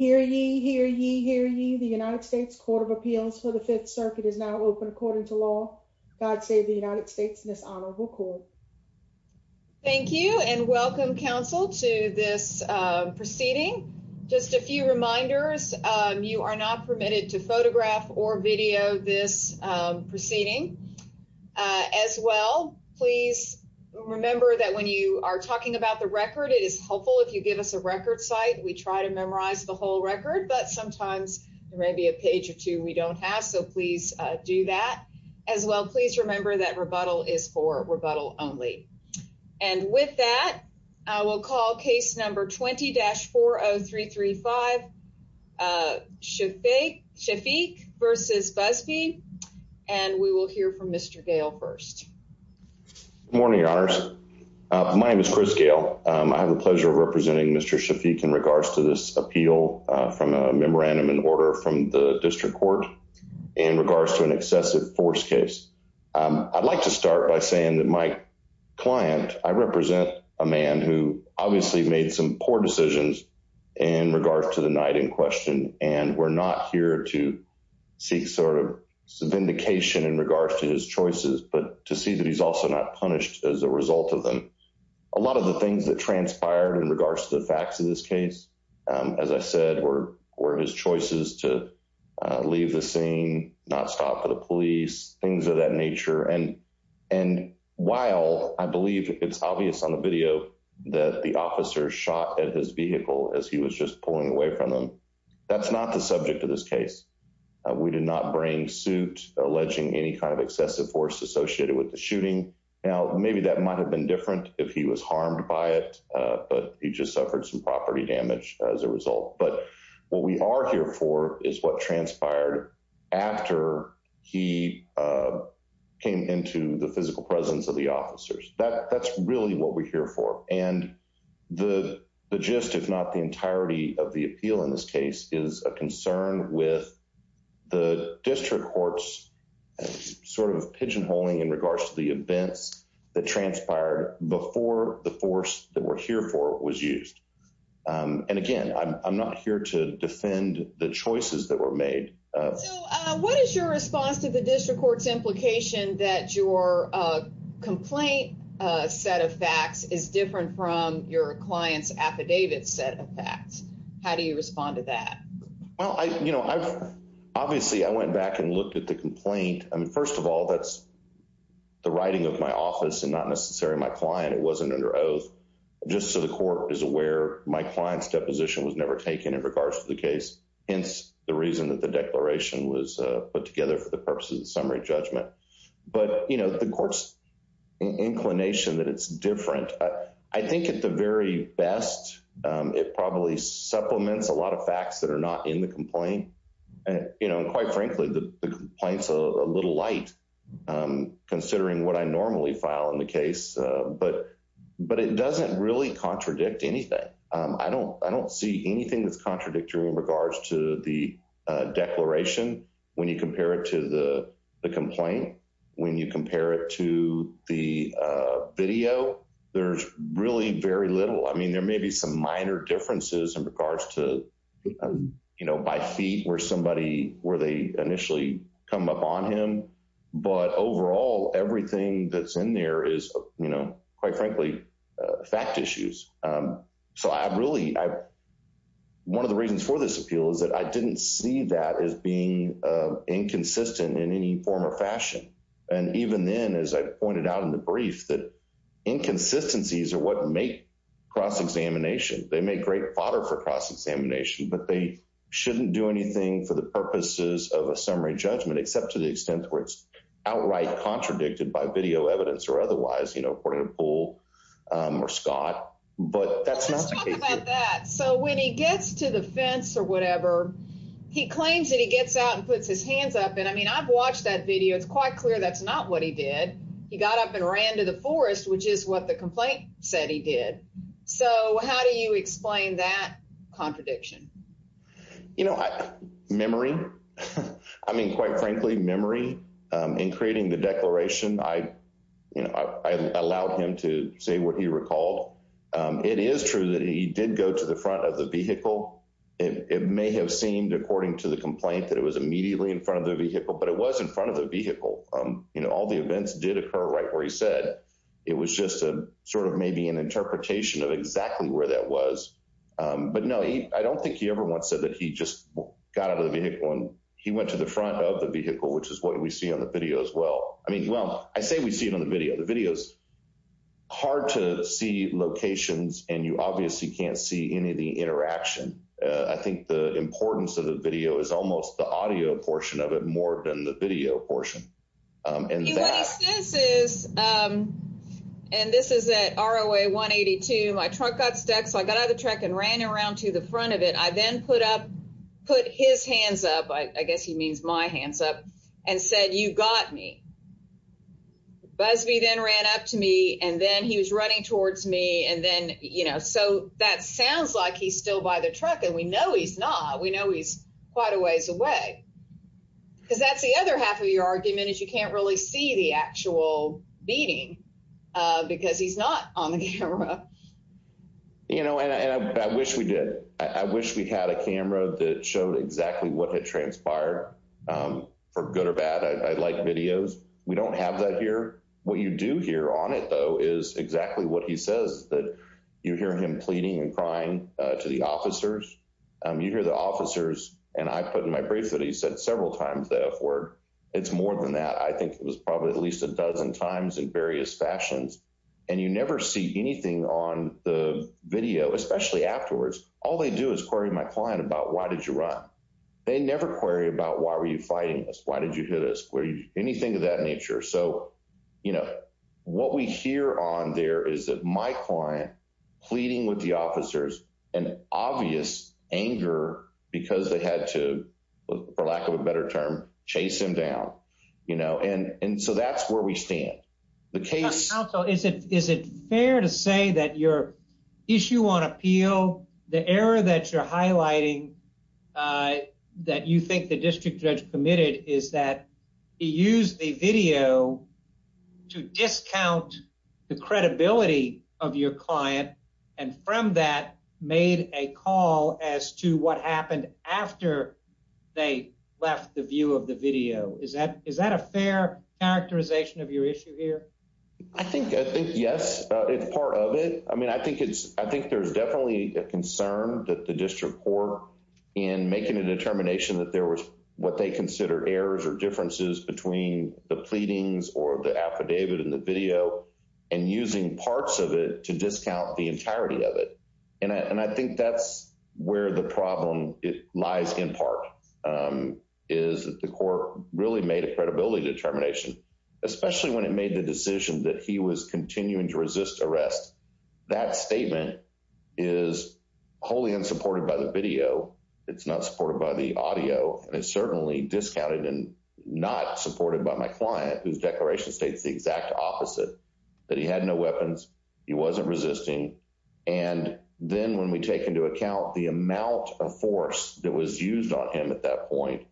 Hear ye, hear ye, hear ye, the United States Court of Appeals for the Fifth Circuit is now open according to law. God save the United States and this honorable court. Thank you and welcome counsel to this proceeding. Just a few reminders. You are not permitted to photograph or video this proceeding as well. Please remember that when you are talking about the record, it is helpful if you give us a record site. We try to memorize the whole record, but sometimes there may be a page or two we don't have. So please do that as well. Please remember that rebuttal is for rebuttal only. And with that, I will call case number 20-40335 Shefeik v. Busby and we will hear from Mr. Gale first. Good morning, your honors. My name is Chris Gale. I have the pleasure of representing Mr. Shefeik in regards to this appeal from a memorandum in order from the district court in regards to an excessive force case. I'd like to start by saying that my client, I represent a man who obviously made some poor decisions in regards to the night in question. And we're not here to seek sort of vindication in regards to his choices, but to see that he's also not punished as a result of them. A lot of the things that transpired in regards to the facts of this case, as I said, were his choices to leave the scene, not stop for the police, things of that nature. And while I believe it's obvious on the video that the officer shot at his vehicle as he was just pulling away from them, that's not the subject of this case. We did not bring suit alleging any kind of excessive force associated with the shooting. Now, maybe that might have been different if he was harmed by it, but he just suffered some property damage as a result. But what we are here for is what transpired after he came into the physical presence of the officers. That's really what we're here for. And the gist, if not the entirety of the appeal in this case, is a concern with the district courts sort of pigeonholing in regards to the events that transpired before the force that we're here for was used. And again, I'm not here to defend the choices that were made. So what is your response to the district court's implication that your complaint set of facts is different from your client's affidavit set of facts? How do you respond to that? Well, obviously, I went back and looked at the complaint. First of all, that's the writing of my office and not necessarily my client. It wasn't under oath. Just so the court is aware, my client's deposition was never taken in regards to the case, hence the reason that the declaration was put together for the purposes of summary judgment. But the court's inclination that it's different, I think at the very best, it probably supplements a lot of facts that are not in the complaint. And quite frankly, the complaint's a little light considering what I normally file in the case, but it doesn't really contradict anything. I don't see anything that's contradictory in regards to the declaration when you compare it to the complaint. When you compare it to the video, there's really very little. I mean, there may be some minor differences in regards to, you know, by feet where somebody, where they initially come up on him. But overall, everything that's in there is, you know, quite frankly, fact issues. So I really, one of the reasons for this appeal is that I didn't see that as being inconsistent in any form or fashion. And even then, as I pointed out in the brief, that inconsistencies are what make cross-examination. They make great fodder for cross-examination, but they shouldn't do anything for the purposes of a summary judgment, except to the extent where it's outright contradicted by video evidence or otherwise, you know, according to Bull or Scott. But that's not the case here. So when he gets to the fence or whatever, he claims that he gets out and puts his hands up. And I mean, I've watched that video. It's quite clear that's not what he did. He got up and ran to the forest, which is what the complaint said he did. So how do you explain that contradiction? You know, memory. I mean, quite frankly, memory in creating the declaration, I, you know, I allowed him to say what he recalled. It is true that he did go to the front of the vehicle. It may have seemed, according to the complaint, that it was immediately in front of the vehicle, but it was in front of the vehicle. You know, all the events did occur right where he said. It was just a sort of maybe an interpretation of exactly where that was. But no, I don't think he ever once said that he just got out of the vehicle and he went to the front of the vehicle, which is what we see on the video as well. I mean, well, I say we see it on the video. The video is hard to see locations and you obviously can't see any of the interaction. I think the importance of the video is almost the audio portion of it more than the video portion. And what he says is, and this is at ROA 182, my truck got stuck. So I got out of the truck and ran around to the front of it. I then put up, put his hands up. I guess he means my hands up and said, you got me. Busby then ran up to me and then he was running towards me. And then, you know, so that sounds like he's still by the truck and we know he's not. We know he's quite a ways away because that's the other half of your argument is you can't really see the actual beating because he's not on the camera. You know, and I wish we did. I wish we had a camera that showed exactly what had transpired for good or bad. I like videos. We don't have that here. What you do hear on it, though, is exactly what he says that you hear him pleading and crying to the officers. You hear the officers and I put in my brief that he said several times that word. It's more than that. I think it was probably at least a dozen times in various fashions and you never see anything on the video, especially afterwards. All they do is query my client about why did you run? They never query about why were you fighting this? Why did you do this? Were you anything of that nature? So, you know, what we hear on there is that my client pleading with the officers and obvious anger because they had to, for lack of a better term, chase him down, you know, and and so that's where we stand. So is it is it fair to say that your issue on appeal, the error that you're highlighting that you think the district judge committed is that he used the video to discount the credibility of your client and from that made a call as to what happened after they left the view of the video. Is that is that a fair characterization of your issue here? I think I think, yes, it's part of it. I mean, I think it's I think there's definitely a concern that the district court in making a determination that there was what they consider errors or differences between the pleadings or the affidavit in the video and using parts of it to discount the entirety of it. And I think that's where the problem lies in part is that the court really made a credibility determination, especially when it made the decision that he was continuing to resist arrest. That statement is wholly unsupported by the video. It's not supported by the audio. It's certainly discounted and not supported by my client whose declaration states the exact opposite, that he had no weapons. He wasn't resisting. And then when we take into account the amount of force that was used on him at that point,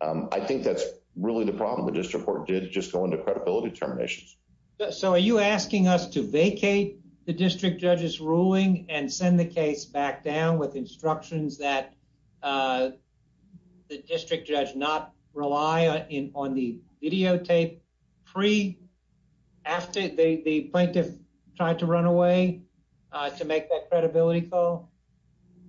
I think that's really the problem. The district court did just go into credibility determinations. So are you asking us to vacate the district judge's ruling and send the case back down with instructions that the district judge not rely on the videotape free after the plaintiff tried to run away to make that credibility call?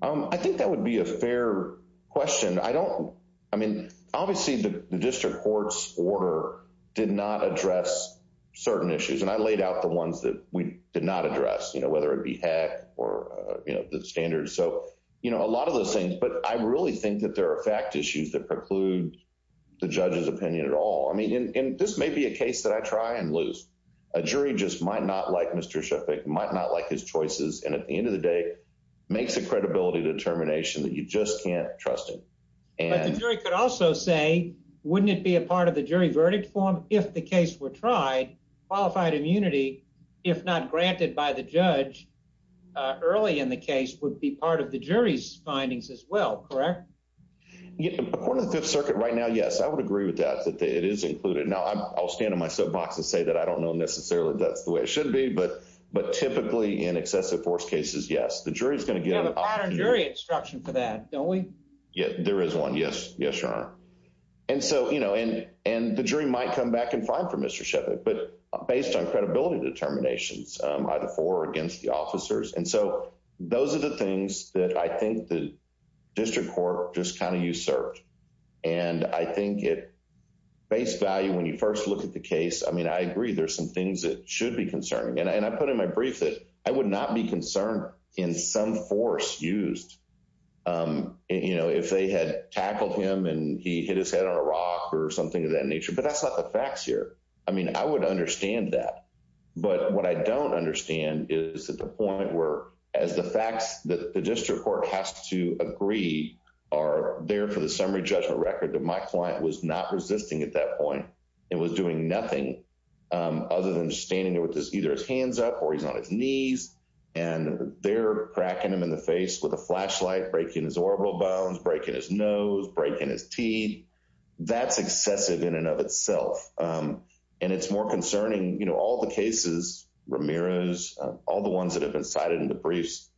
I think that would be a fair question. I don't. I mean, obviously, the district court's order did not address certain issues. And I laid out the ones that we did not address, whether it be hack or the standards. So a lot of those things. But I really think that there are fact issues that preclude the judge's opinion at all. I mean, this may be a case that I try and lose. A jury just might not like Mr. Sheffick, might not like his choices. And at the end of the day, makes a credibility determination that you just can't trust him. But the jury could also say, wouldn't it be a part of the jury verdict form if the case were tried? Qualified immunity, if not granted by the judge early in the case, would be part of the jury's findings as well, correct? According to the Fifth Circuit right now, yes, I would agree with that, that it is included. Now, I'll stand on my soapbox and say that I don't know necessarily that's the way it should be. But but typically in excessive force cases, yes, the jury is going to get a jury instruction for that, don't we? Yeah, there is one. Yes. Yes, Your Honor. And so, you know, and and the jury might come back and find for Mr. Sheffick, but based on credibility determinations by the four against the officers. And so those are the things that I think the district court just kind of usurped. And I think it base value when you first look at the case. I mean, I agree there's some things that should be concerning. And I put in my brief that I would not be concerned in some force used, you know, if they had tackled him and he hit his head on a rock or something of that nature. But that's not the facts here. I mean, I would understand that. But what I don't understand is that the point where as the facts that the district court has to agree are there for the summary judgment record that my client was not resisting at that point and was doing nothing other than standing there with either his hands up or he's on his knees and they're cracking him in the face with a flashlight, breaking his orbital bones, breaking his nose, breaking his teeth. That's excessive in and of itself. And it's more concerning, you know, all the cases, Ramirez, all the ones that have been cited in the briefs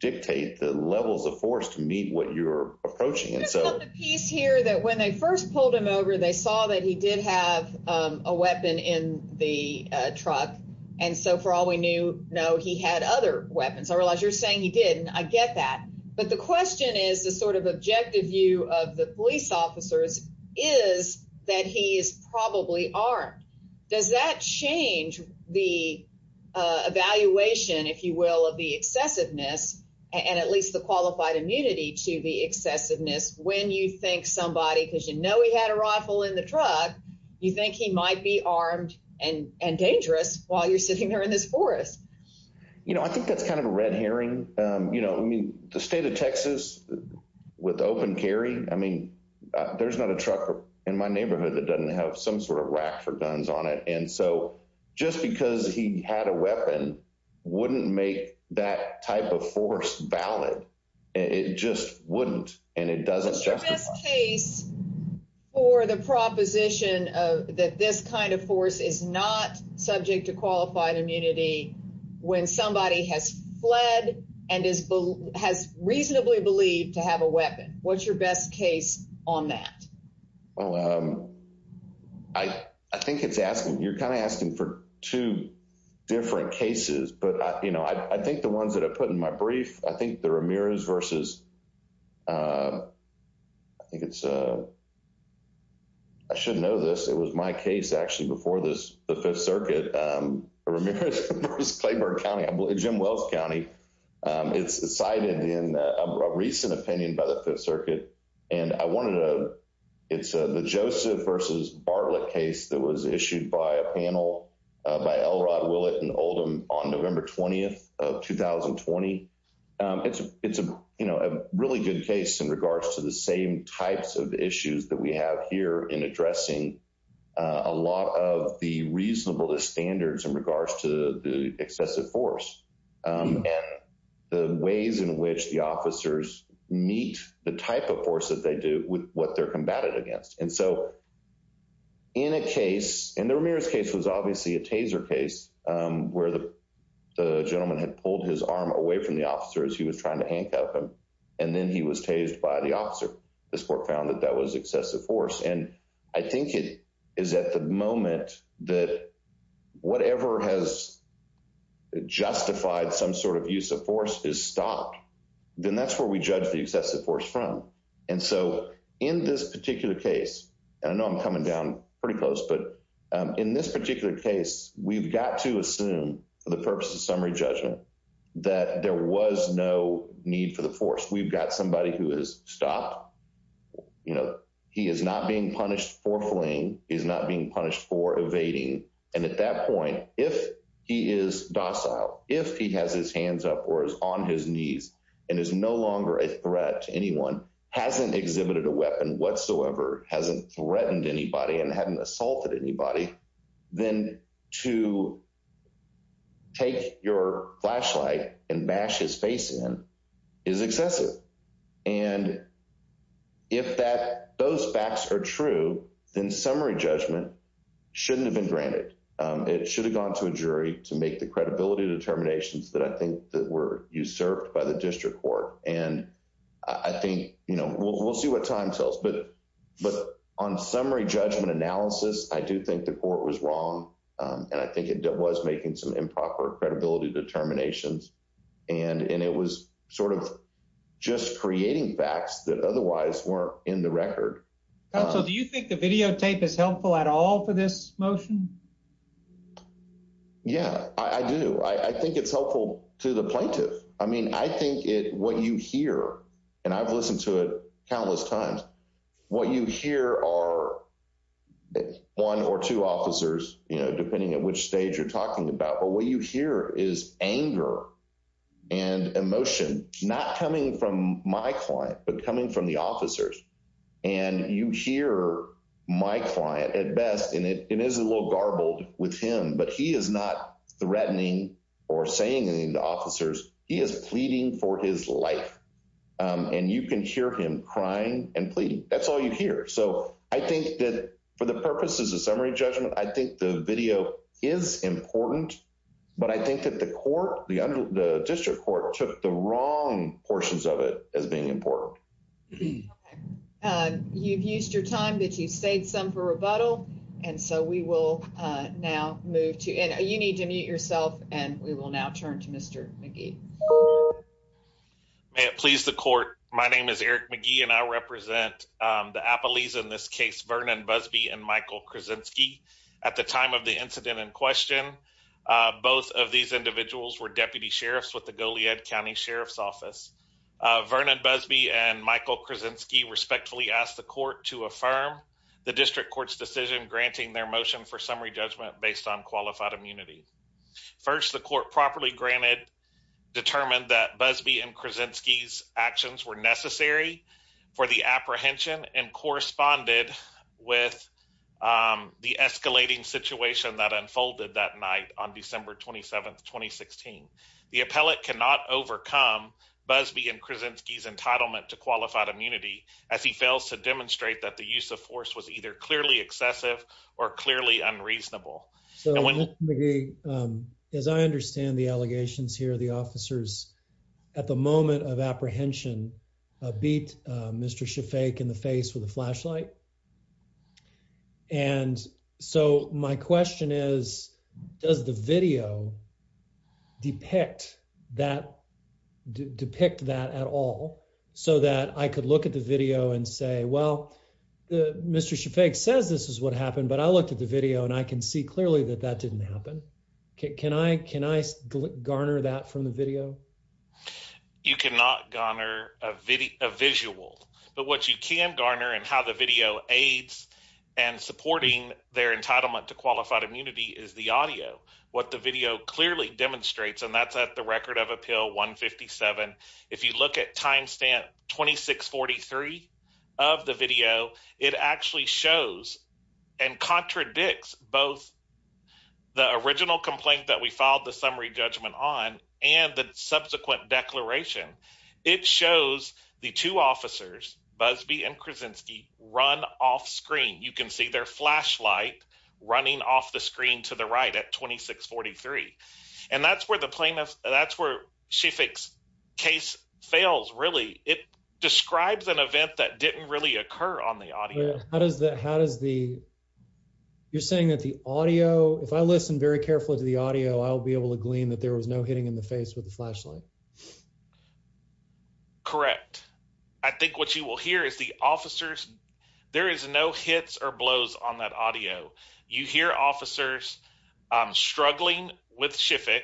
dictate the levels of force to meet what you're approaching. And so he's here that when they first pulled him over, they saw that he did have a weapon in the truck. And so for all we knew, no, he had other weapons. I realize you're saying he didn't. I get that. But the question is the sort of objective view of the police officers is that he is probably armed. Does that change the evaluation, if you will, of the excessiveness and at least the qualified immunity to the excessiveness? When you think somebody because, you know, he had a rifle in the truck, you think he might be armed and dangerous while you're sitting there in this forest? You know, I think that's kind of a red herring. You know, I mean, the state of Texas with open carry. I mean, there's not a truck in my neighborhood that doesn't have some sort of rack for guns on it. And so just because he had a weapon wouldn't make that type of force valid. It just wouldn't. And it doesn't. What's your best case for the proposition that this kind of force is not subject to qualified immunity when somebody has fled and is has reasonably believed to have a weapon? What's your best case on that? Well, I think it's asking you're kind of asking for two different cases. But, you know, I think the ones that I put in my brief, I think the Ramirez versus I think it's I should know this. It was my case actually before this, the Fifth Circuit, Ramirez versus Claiborne County, Jim Wells County. It's cited in a recent opinion by the Fifth Circuit. And I wanted to it's the Joseph versus Bartlett case that was issued by a panel by Elrod, Willett and Oldham on November 20th of 2020. It's a really good case in regards to the same types of issues that we have here in addressing a lot of the reasonable standards in regards to the excessive force and the ways in which the officers meet the type of force that they do with what they're combated against. And so in a case in the Ramirez case was obviously a taser case where the gentleman had pulled his arm away from the officer as he was trying to handcuff him. And then he was tased by the officer. This court found that that was excessive force. And I think it is at the moment that whatever has justified some sort of use of force is stopped. Then that's where we judge the excessive force from. And so in this particular case, and I know I'm coming down pretty close, but in this particular case, we've got to assume for the purpose of summary judgment that there was no need for the force. We've got somebody who is stopped. You know, he is not being punished for fleeing. He's not being punished for evading. And at that point, if he is docile, if he has his hands up or is on his knees and is no longer a threat to anyone, hasn't exhibited a weapon whatsoever, hasn't threatened anybody and hadn't assaulted anybody, then to take your flashlight and bash his face in is excessive. If that those facts are true, then summary judgment shouldn't have been granted. It should have gone to a jury to make the credibility determinations that I think that were usurped by the district court. And I think, you know, we'll see what time sells. But but on summary judgment analysis, I do think the court was wrong. And I think it was making some improper credibility determinations. And it was sort of just creating facts that otherwise weren't in the record. So do you think the videotape is helpful at all for this motion? Yeah, I do. I think it's helpful to the plaintiff. I mean, I think it what you hear and I've listened to it countless times. What you hear are one or two officers, you know, depending on which stage you're talking about. But what you hear is anger and emotion, not coming from my client, but coming from the officers. And you hear my client at best. And it is a little garbled with him, but he is not threatening or saying anything to officers. He is pleading for his life and you can hear him crying and pleading. That's all you hear. So I think that for the purposes of summary judgment, I think the video is important. But I think that the court, the district court took the wrong portions of it as being important. You've used your time that you've saved some for rebuttal. And so we will now move to and you need to mute yourself and we will now turn to Mr. McGee. May it please the court. My name is Eric McGee and I represent the appellees in this case, Vernon Busby and Michael Krasinski. At the time of the incident in question, both of these individuals were deputy sheriffs with the Goliad County Sheriff's Office. Vernon Busby and Michael Krasinski respectfully asked the court to affirm the district court's decision, granting their motion for summary judgment based on qualified immunity. First, the court properly granted determined that Busby and Krasinski's actions were necessary for the apprehension and corresponded with the escalating situation that unfolded that night on December 27th, 2016. The appellate cannot overcome Busby and Krasinski's entitlement to qualified immunity as he fails to demonstrate that the use of force was either clearly excessive or clearly unreasonable. So, Mr. McGee, as I understand the allegations here, the officers at the moment of apprehension beat Mr. Shafak in the face with a flashlight. And so my question is, does the video depict that at all so that I could look at the video and say, well, Mr. Shafak says this is what happened, but I looked at the video and I can see clearly that that didn't happen. Can I garner that from the video? You cannot garner a visual, but what you can garner and how the video aids and supporting their entitlement to qualified immunity is the audio. What the video clearly demonstrates, and that's at the record of appeal 157. If you look at timestamp 2643 of the video, it actually shows and contradicts both the original complaint that we filed the summary judgment on and the subsequent declaration. It shows the two officers, Busby and Krasinski run off screen. You can see their flashlight running off the screen to the right at 2643. And that's where the plaintiff, that's where Shafak's case fails, really. It describes an event that didn't really occur on the audio. How does that, how does the, you're saying that the audio, if I listen very carefully to the audio, I'll be able to glean that there was no hitting in the face with the flashlight. Correct. I think what you will hear is the officers, there is no hits or blows on that audio. You hear officers struggling with Shafak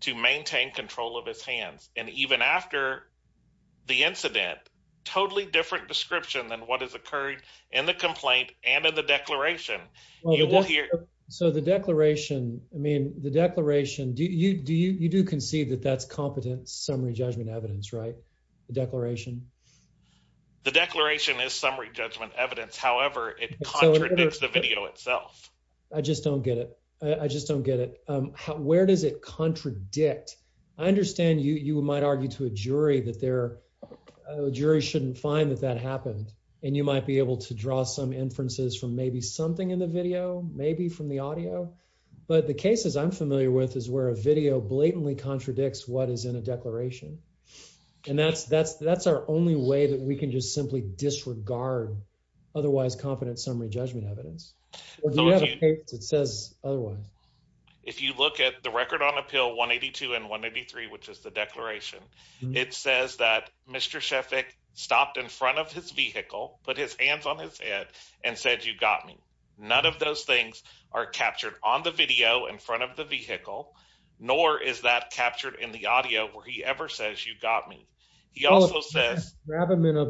to maintain control of his hands. And even after the incident, totally different description than what has occurred in the complaint and in the declaration. So the declaration, I mean, the declaration, do you, do you, you do concede that that's competent summary judgment evidence, right? The declaration. The declaration is summary judgment evidence. However, it contradicts the video itself. I just don't get it. I just don't get it. Where does it contradict? I understand you might argue to a jury that their jury shouldn't find that that happened. And you might be able to draw some inferences from maybe something in the video, maybe from the audio. But the cases I'm familiar with is where a video blatantly contradicts what is in a declaration. And that's, that's, that's our only way that we can just simply disregard otherwise competent summary judgment evidence. Or do you have a case that says otherwise? If you look at the record on appeal 182 and 183, which is the declaration, it says that Mr. He also says. And further,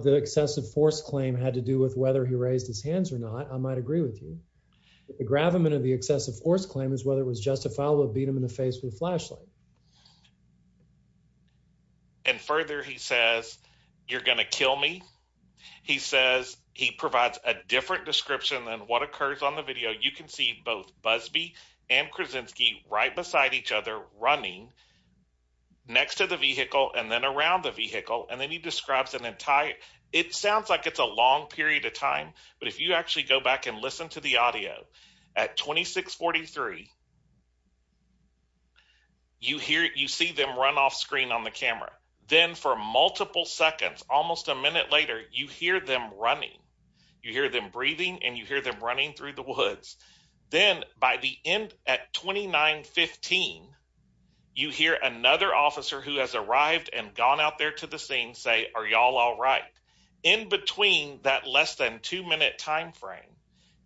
he says, you're going to kill me. He says he provides a different description than what occurs on the video. So, you can see both Busby and Krasinski right beside each other running next to the vehicle and then around the vehicle. And then he describes an entire, it sounds like it's a long period of time. But if you actually go back and listen to the audio at 2643, you hear, you see them run off screen on the camera. Then for multiple seconds, almost a minute later, you hear them running. You hear them breathing and you hear them running through the woods. Then, by the end at 2915, you hear another officer who has arrived and gone out there to the scene say, are y'all all right? In between that less than two minute timeframe,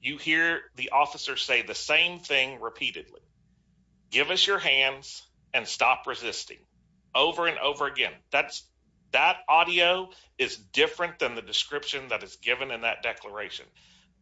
you hear the officer say the same thing repeatedly. Give us your hands and stop resisting over and over again. That audio is different than the description that is given in that declaration.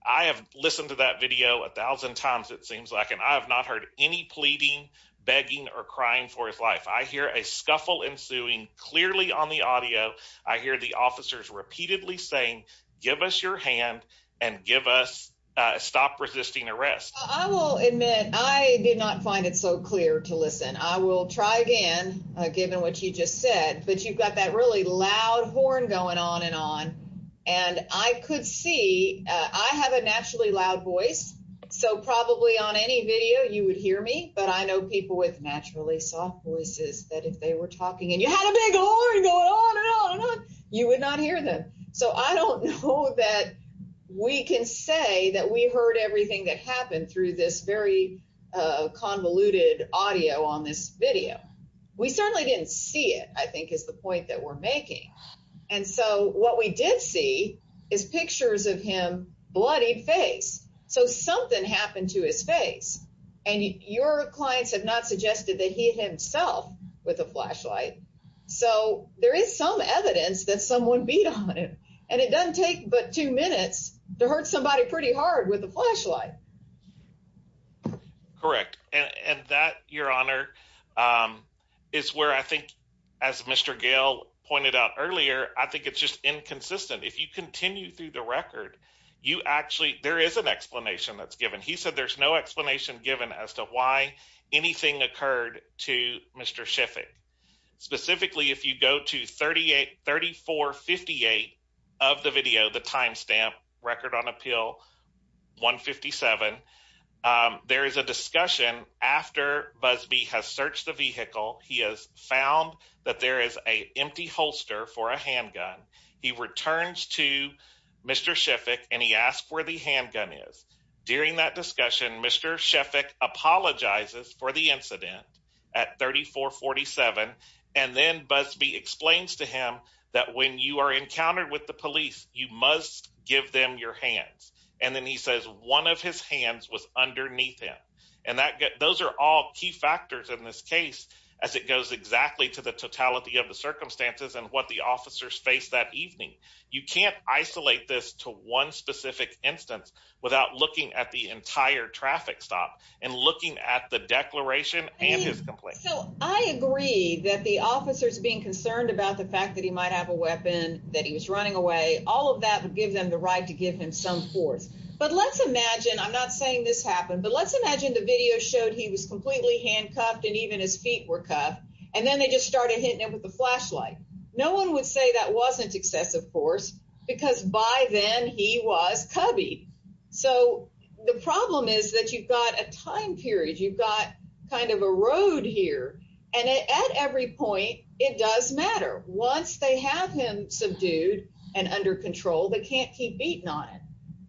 I have listened to that video a thousand times, it seems like, and I have not heard any pleading, begging or crying for his life. I hear a scuffle ensuing clearly on the audio. I hear the officers repeatedly saying, give us your hand and give us a stop resisting arrest. I will admit I did not find it so clear to listen. I will try again, given what you just said. But you've got that really loud horn going on and on. And I could see, I have a naturally loud voice, so probably on any video you would hear me. But I know people with naturally soft voices that if they were talking and you had a big horn going on and on and on, you would not hear them. So I don't know that we can say that we heard everything that happened through this very convoluted audio on this video. We certainly didn't see it, I think is the point that we're making. And so what we did see is pictures of him, bloodied face. So something happened to his face. And your clients have not suggested that he himself with a flashlight. So there is some evidence that someone beat on him. And it doesn't take but two minutes to hurt somebody pretty hard with a flashlight. And that, Your Honor, is where I think, as Mr. Gale pointed out earlier, I think it's just inconsistent. If you continue through the record, you actually, there is an explanation that's given. He said there's no explanation given as to why anything occurred to Mr. Schiffick. Specifically, if you go to 3458 of the video, the timestamp, Record on Appeal 157, there is a discussion after Busby has searched the vehicle. He has found that there is an empty holster for a handgun. He returns to Mr. Schiffick and he asks where the handgun is. During that discussion, Mr. Schiffick apologizes for the incident at 3447. And then Busby explains to him that when you are encountered with the police, you must give them your hands. And then he says one of his hands was underneath him. And those are all key factors in this case as it goes exactly to the totality of the circumstances and what the officers faced that evening. You can't isolate this to one specific instance without looking at the entire traffic stop and looking at the declaration and his complaint. So I agree that the officers being concerned about the fact that he might have a weapon, that he was running away. All of that would give them the right to give him some force. But let's imagine I'm not saying this happened, but let's imagine the video showed he was completely handcuffed and even his feet were cuffed. And then they just started hitting him with the flashlight. No one would say that wasn't excessive force because by then he was cubby. So the problem is that you've got a time period, you've got kind of a road here. And at every point, it does matter. Once they have him subdued and under control, they can't keep beating on it.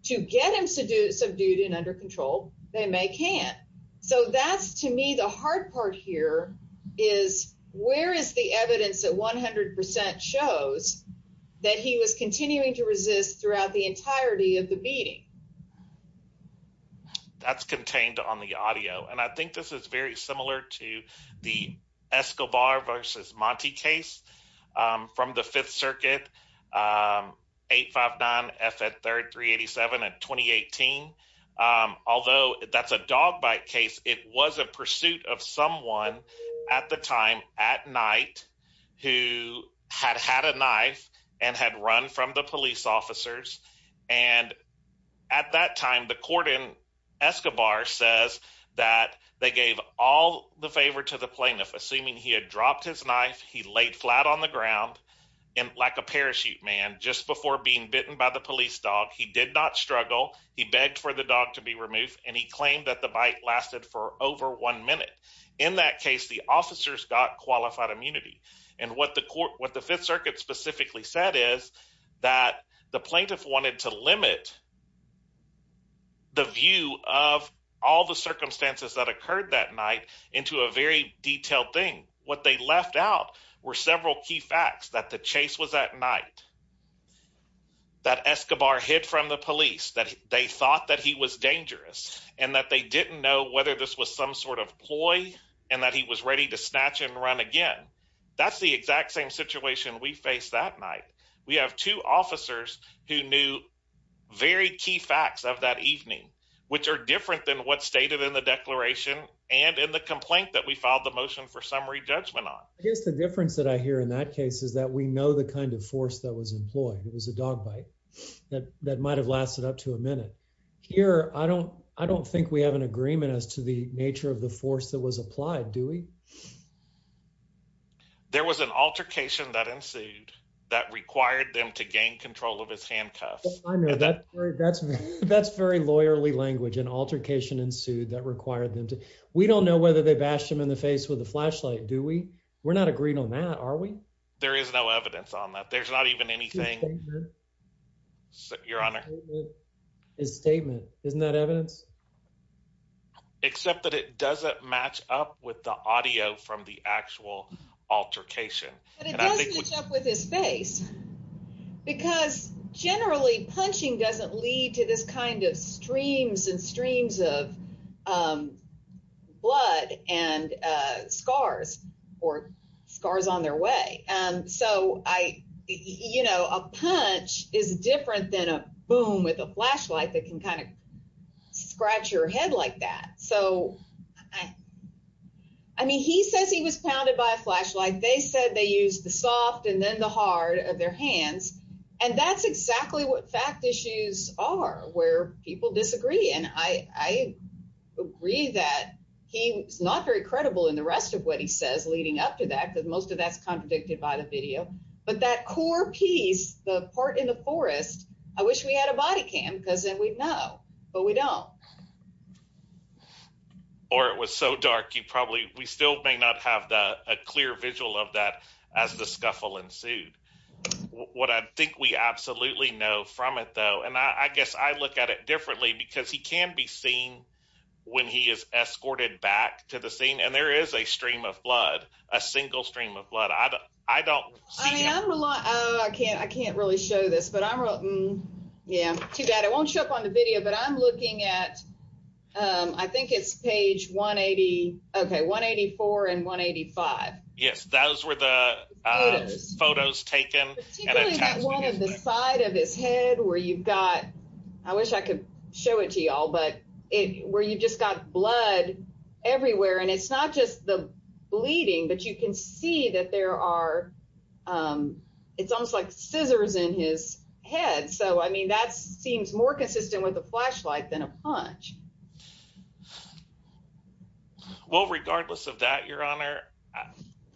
To get him subdued and under control, they may can't. So that's to me, the hard part here is where is the evidence that 100 percent shows that he was continuing to resist throughout the entirety of the beating? That's contained on the audio, and I think this is very similar to the Escobar versus Monty case from the Fifth Circuit. 859 F at 387 at 2018, although that's a dog bite case. It was a pursuit of someone at the time at night who had had a knife and had run from the police officers. And at that time, the court in Escobar says that they gave all the favor to the plaintiff, assuming he had dropped his knife. He laid flat on the ground and like a parachute man just before being bitten by the police dog. He did not struggle. He begged for the dog to be removed, and he claimed that the bite lasted for over one minute. In that case, the officers got qualified immunity. And what the court what the Fifth Circuit specifically said is that the plaintiff wanted to limit. The view of all the circumstances that occurred that night into a very detailed thing, what they left out were several key facts that the chase was at night. That Escobar hid from the police that they thought that he was dangerous and that they didn't know whether this was some sort of ploy and that he was ready to snatch and run again. That's the exact same situation we faced that night. We have two officers who knew very key facts of that evening, which are different than what stated in the declaration and in the complaint that we filed the motion for summary judgment on. I guess the difference that I hear in that case is that we know the kind of force that was employed. It was a dog bite that that might have lasted up to a minute here. I don't I don't think we have an agreement as to the nature of the force that was applied. Do we. There was an altercation that ensued that required them to gain control of his handcuffs. That's that's very lawyerly language and altercation ensued that required them to. We don't know whether they bashed him in the face with a flashlight, do we. We're not agreeing on that, are we. There is no evidence on that. There's not even anything. Your Honor. His statement, isn't that evidence. Except that it doesn't match up with the audio from the actual altercation. But it does match up with his face because generally punching doesn't lead to this kind of streams and streams of blood and scars or scars on their way. So I you know, a punch is different than a boom with a flashlight that can kind of scratch your head like that. So, I mean, he says he was pounded by a flashlight. They said they use the soft and then the hard of their hands. And that's exactly what fact issues are where people disagree. And I agree that he's not very credible in the rest of what he says leading up to that because most of that's contradicted by the video. But that core piece, the part in the forest. I wish we had a body cam because then we'd know, but we don't. Or it was so dark. You probably we still may not have a clear visual of that as the scuffle ensued. What I think we absolutely know from it, though, and I guess I look at it differently because he can be seen when he is escorted back to the scene. And there is a stream of blood, a single stream of blood. I don't I don't. I can't, I can't really show this, but I'm. Yeah, too bad. I won't show up on the video, but I'm looking at, I think it's page 180 okay 184 and 185. Yes, those were the photos taken. The side of his head where you've got. I wish I could show it to you all, but it where you just got blood everywhere. And it's not just the bleeding, but you can see that there are. It's almost like scissors in his head. So, I mean, that's seems more consistent with the flashlight than a punch. Well, regardless of that, your honor,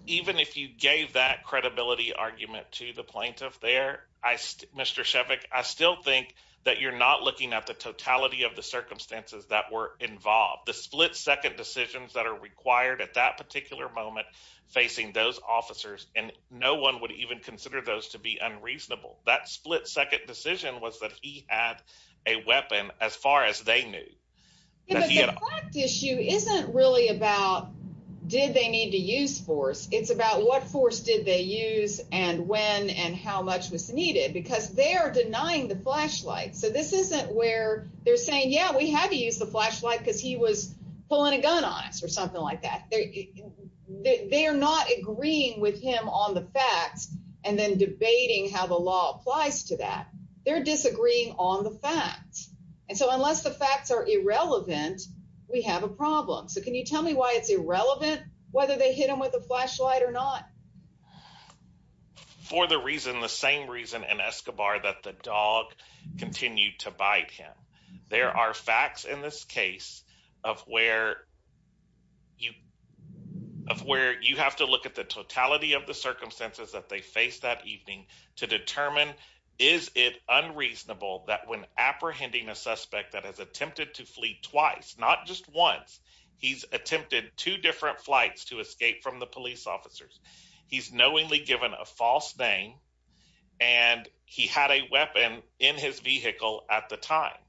even if you gave that credibility argument to the plaintiff there. I, Mr. I still think that you're not looking at the totality of the circumstances that were involved the split second decisions that are required at that particular moment facing those officers and no one would even consider those to be unreasonable. That split second decision was that he had a weapon as far as they knew. The issue isn't really about did they need to use force? It's about what force did they use and when and how much was needed because they are denying the flashlight. So, this isn't where they're saying, yeah, we have to use the flashlight because he was pulling a gun on us or something like that. They are not agreeing with him on the facts and then debating how the law applies to that. They're disagreeing on the facts. And so, unless the facts are irrelevant, we have a problem. So, can you tell me why it's irrelevant whether they hit him with a flashlight or not? For the reason, the same reason in Escobar that the dog continued to bite him. There are facts in this case of where you have to look at the totality of the circumstances that they faced that evening to determine is it unreasonable that when apprehending a suspect that has attempted to flee twice, not just once. He's attempted two different flights to escape from the police officers. He's knowingly given a false name and he had a weapon in his vehicle at the time. And so, I think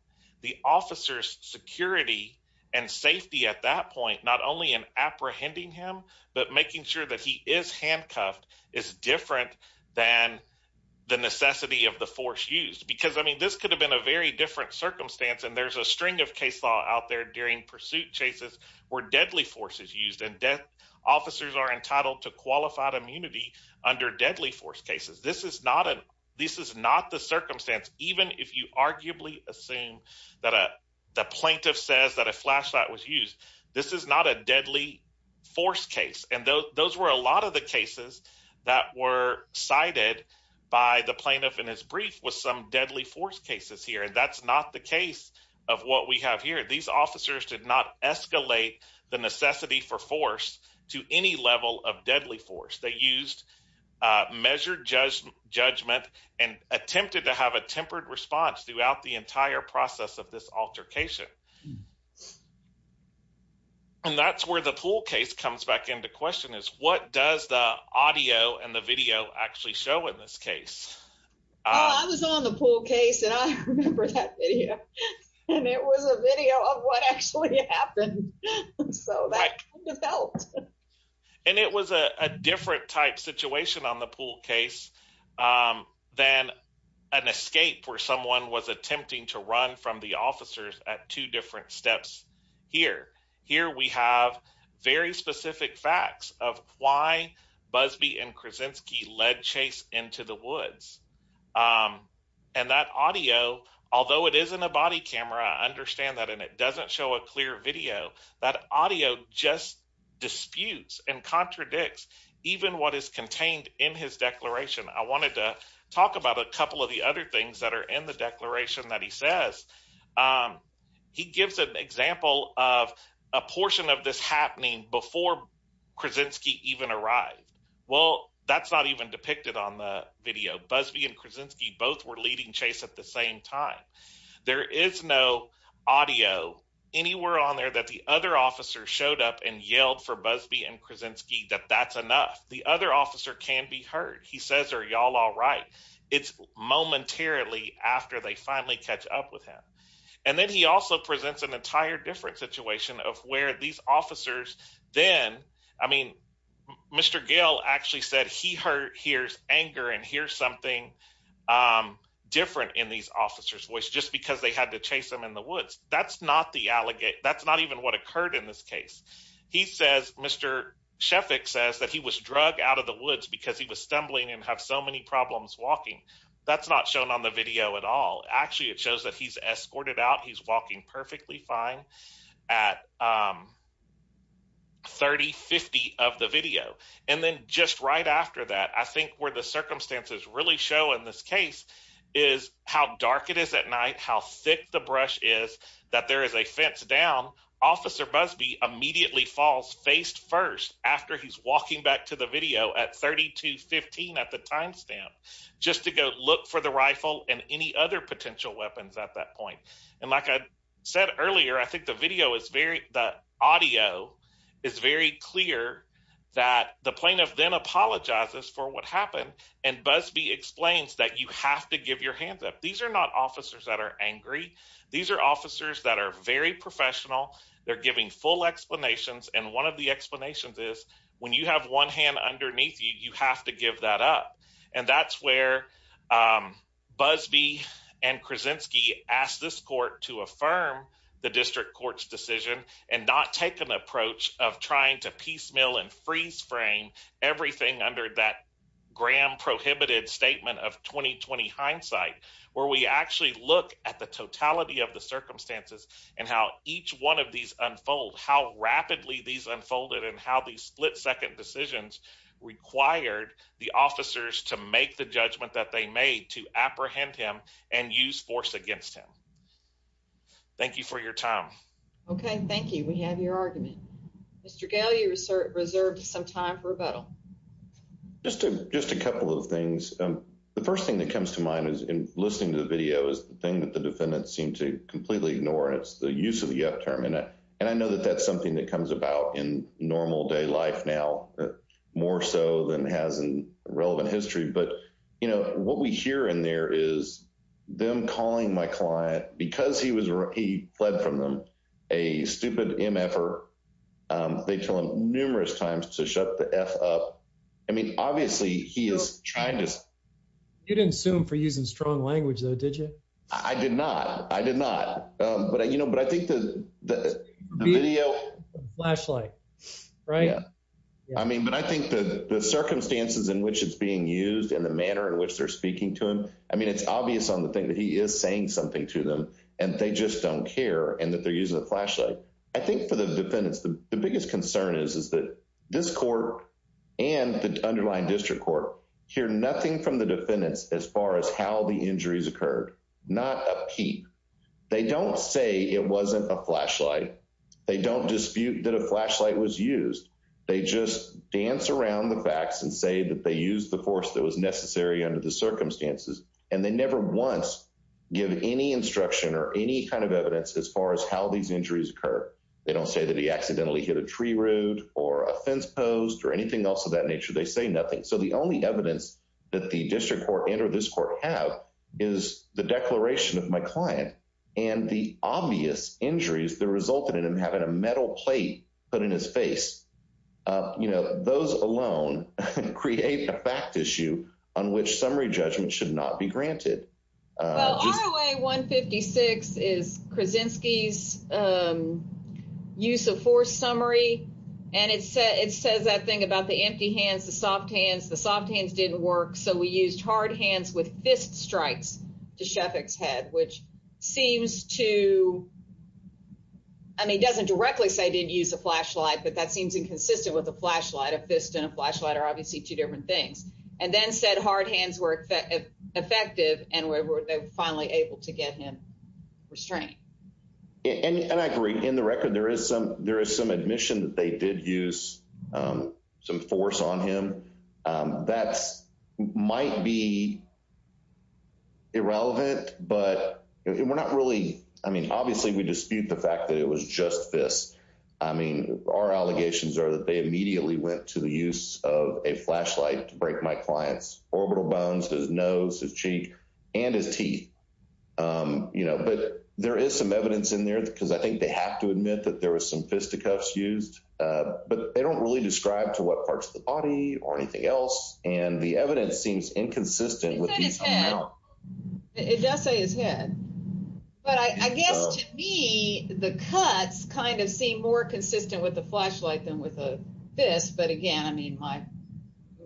the officers' security and safety at that point, not only in apprehending him, but making sure that he is handcuffed is different than the necessity of the force used. Because, I mean, this could have been a very different circumstance and there's a string of case law out there during pursuit chases where deadly force is used and officers are entitled to qualified immunity under deadly force cases. This is not the circumstance, even if you arguably assume that the plaintiff says that a flashlight was used. This is not a deadly force case. And those were a lot of the cases that were cited by the plaintiff in his brief with some deadly force cases here. That's not the case of what we have here. These officers did not escalate the necessity for force to any level of deadly force. They used measured judgment and attempted to have a tempered response throughout the entire process of this altercation. And that's where the pool case comes back into question is what does the audio and the video actually show in this case? I was on the pool case and I remember that video. And it was a video of what actually happened. So that kind of helped. And it was a different type situation on the pool case than an escape where someone was attempting to run from the officers at two different steps here. Here we have very specific facts of why Busby and Krasinski led Chase into the woods. And that audio, although it isn't a body camera, I understand that. And it doesn't show a clear video. That audio just disputes and contradicts even what is contained in his declaration. I wanted to talk about a couple of the other things that are in the declaration that he says. He gives an example of a portion of this happening before Krasinski even arrived. Well, that's not even depicted on the video. Busby and Krasinski both were leading Chase at the same time. There is no audio anywhere on there that the other officers showed up and yelled for Busby and Krasinski that that's enough. The other officer can be heard. He says, are y'all all right? It's momentarily after they finally catch up with him. And then he also presents an entire different situation of where these officers then, I mean, Mr. Gale actually said he hears anger and hears something different in these officers voice just because they had to chase them in the woods. That's not the allegation. That's not even what occurred in this case. He says, Mr. Sheffick says that he was drug out of the woods because he was stumbling and have so many problems walking. That's not shown on the video at all. Actually, it shows that he's escorted out. He's walking perfectly fine at 30, 50 of the video. And then just right after that, I think where the circumstances really show in this case is how dark it is at night, how thick the brush is, that there is a fence down. Officer Busby immediately falls face first after he's walking back to the video at 30 to 15 at the timestamp just to go look for the rifle and any other potential weapons at that point. And like I said earlier, I think the video is very, the audio is very clear that the plaintiff then apologizes for what happened. And Busby explains that you have to give your hands up. These are not officers that are angry. These are officers that are very professional. They're giving full explanations. And one of the explanations is when you have one hand underneath you, you have to give that up. And that's where Busby and Krasinski asked this court to affirm the district court's decision and not take an approach of trying to piecemeal and freeze frame everything under that Graham prohibited statement of 2020 hindsight, where we actually look at the totality of the circumstances and how each one of these unfold, how rapidly these unfolded and how these split-second decisions required the officers to give up their hands. To make the judgment that they made, to apprehend him and use force against him. Thank you for your time. Okay, thank you. We have your argument. Mr. Gail, you reserved some time for rebuttal. Just a couple of things. The first thing that comes to mind is in listening to the video is the thing that the defendants seem to completely ignore. It's the use of the up term. And I know that that's something that comes about in normal day life now, more so than has in relevant history. But, you know, what we hear in there is them calling my client because he was he fled from them, a stupid MF-er. They tell him numerous times to shut the F up. I mean, obviously, he is trying to. You didn't sue him for using strong language, though, did you? I did not. I did not. But, you know, but I think the video. Flashlight, right? Yeah. I mean, but I think the circumstances in which it's being used and the manner in which they're speaking to him. I mean, it's obvious on the thing that he is saying something to them and they just don't care and that they're using a flashlight. I think for the defendants, the biggest concern is, is that this court and the underlying district court hear nothing from the defendants as far as how the injuries occurred. Not a peep. They don't say it wasn't a flashlight. They don't dispute that a flashlight was used. They just dance around the facts and say that they used the force that was necessary under the circumstances. And they never once give any instruction or any kind of evidence as far as how these injuries occur. They don't say that he accidentally hit a tree root or a fence post or anything else of that nature. They say nothing. So the only evidence that the district court and or this court have is the declaration of my client and the obvious injuries that resulted in him having a metal plate put in his face. You know, those alone create a fact issue on which summary judgment should not be granted. 156 is Krasinski's use of force summary. And it said it says that thing about the empty hands, the soft hands, the soft hands didn't work. So we used hard hands with fist strikes to Sheffick's head, which seems to. I mean, it doesn't directly say I didn't use a flashlight, but that seems inconsistent with a flashlight. A fist and a flashlight are obviously two different things. And then said hard hands were effective and were finally able to get him restrained. And I agree. In the record, there is some there is some admission that they did use some force on him. That's might be. Irrelevant, but we're not really. I mean, obviously, we dispute the fact that it was just this. I mean, our allegations are that they immediately went to the use of a flashlight to break my client's orbital bones, his nose, his cheek and his teeth. You know, but there is some evidence in there because I think they have to admit that there was some fisticuffs used. But they don't really describe to what parts of the body or anything else. And the evidence seems inconsistent with his head. It does say his head. But I guess to me, the cuts kind of seem more consistent with the flashlight than with a fist. But again, I mean, my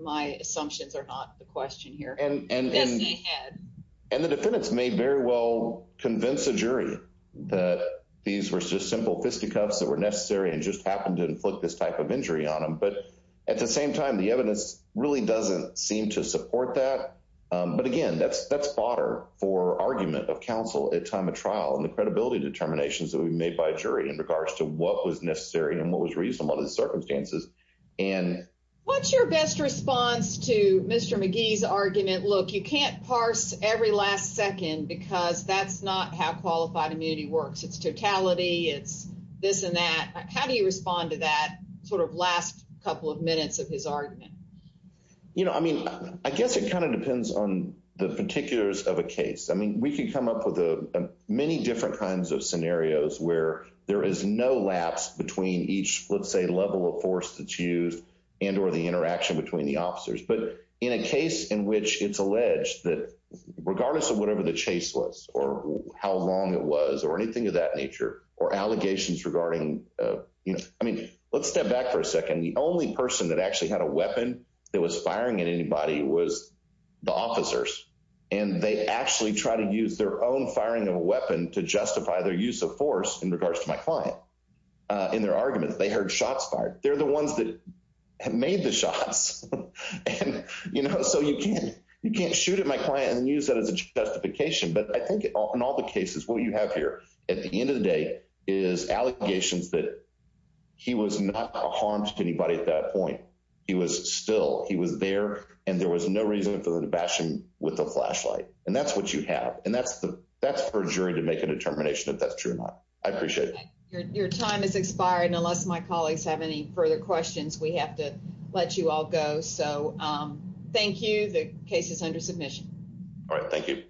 my assumptions are not the question here. And the defendants may very well convince a jury that these were just simple fisticuffs that were necessary and just happened to inflict this type of injury on him. But at the same time, the evidence really doesn't seem to support that. But again, that's that's fodder for argument of counsel at time of trial and the credibility determinations that we made by jury in regards to what was necessary and what was reasonable to the circumstances. And what's your best response to Mr. McGee's argument? Look, you can't parse every last second because that's not how qualified immunity works. It's totality. It's this and that. How do you respond to that sort of last couple of minutes of his argument? You know, I mean, I guess it kind of depends on the particulars of a case. I mean, we can come up with many different kinds of scenarios where there is no lapse between each, let's say, level of force that's used and or the interaction between the officers. But in a case in which it's alleged that regardless of whatever the chase was or how long it was or anything of that nature or allegations regarding, you know, I mean, let's step back for a second. The only person that actually had a weapon that was firing at anybody was the officers. And they actually try to use their own firing of a weapon to justify their use of force in regards to my client. In their arguments, they heard shots fired. They're the ones that have made the shots. You know, so you can't you can't shoot at my client and use that as a justification. But I think in all the cases, what you have here at the end of the day is allegations that he was not harmed anybody at that point. He was still he was there and there was no reason for the bashing with the flashlight. And that's what you have. And that's the that's for jury to make a determination if that's true or not. I appreciate your time is expired. And unless my colleagues have any further questions, we have to let you all go. So thank you. The case is under submission. All right. Thank you.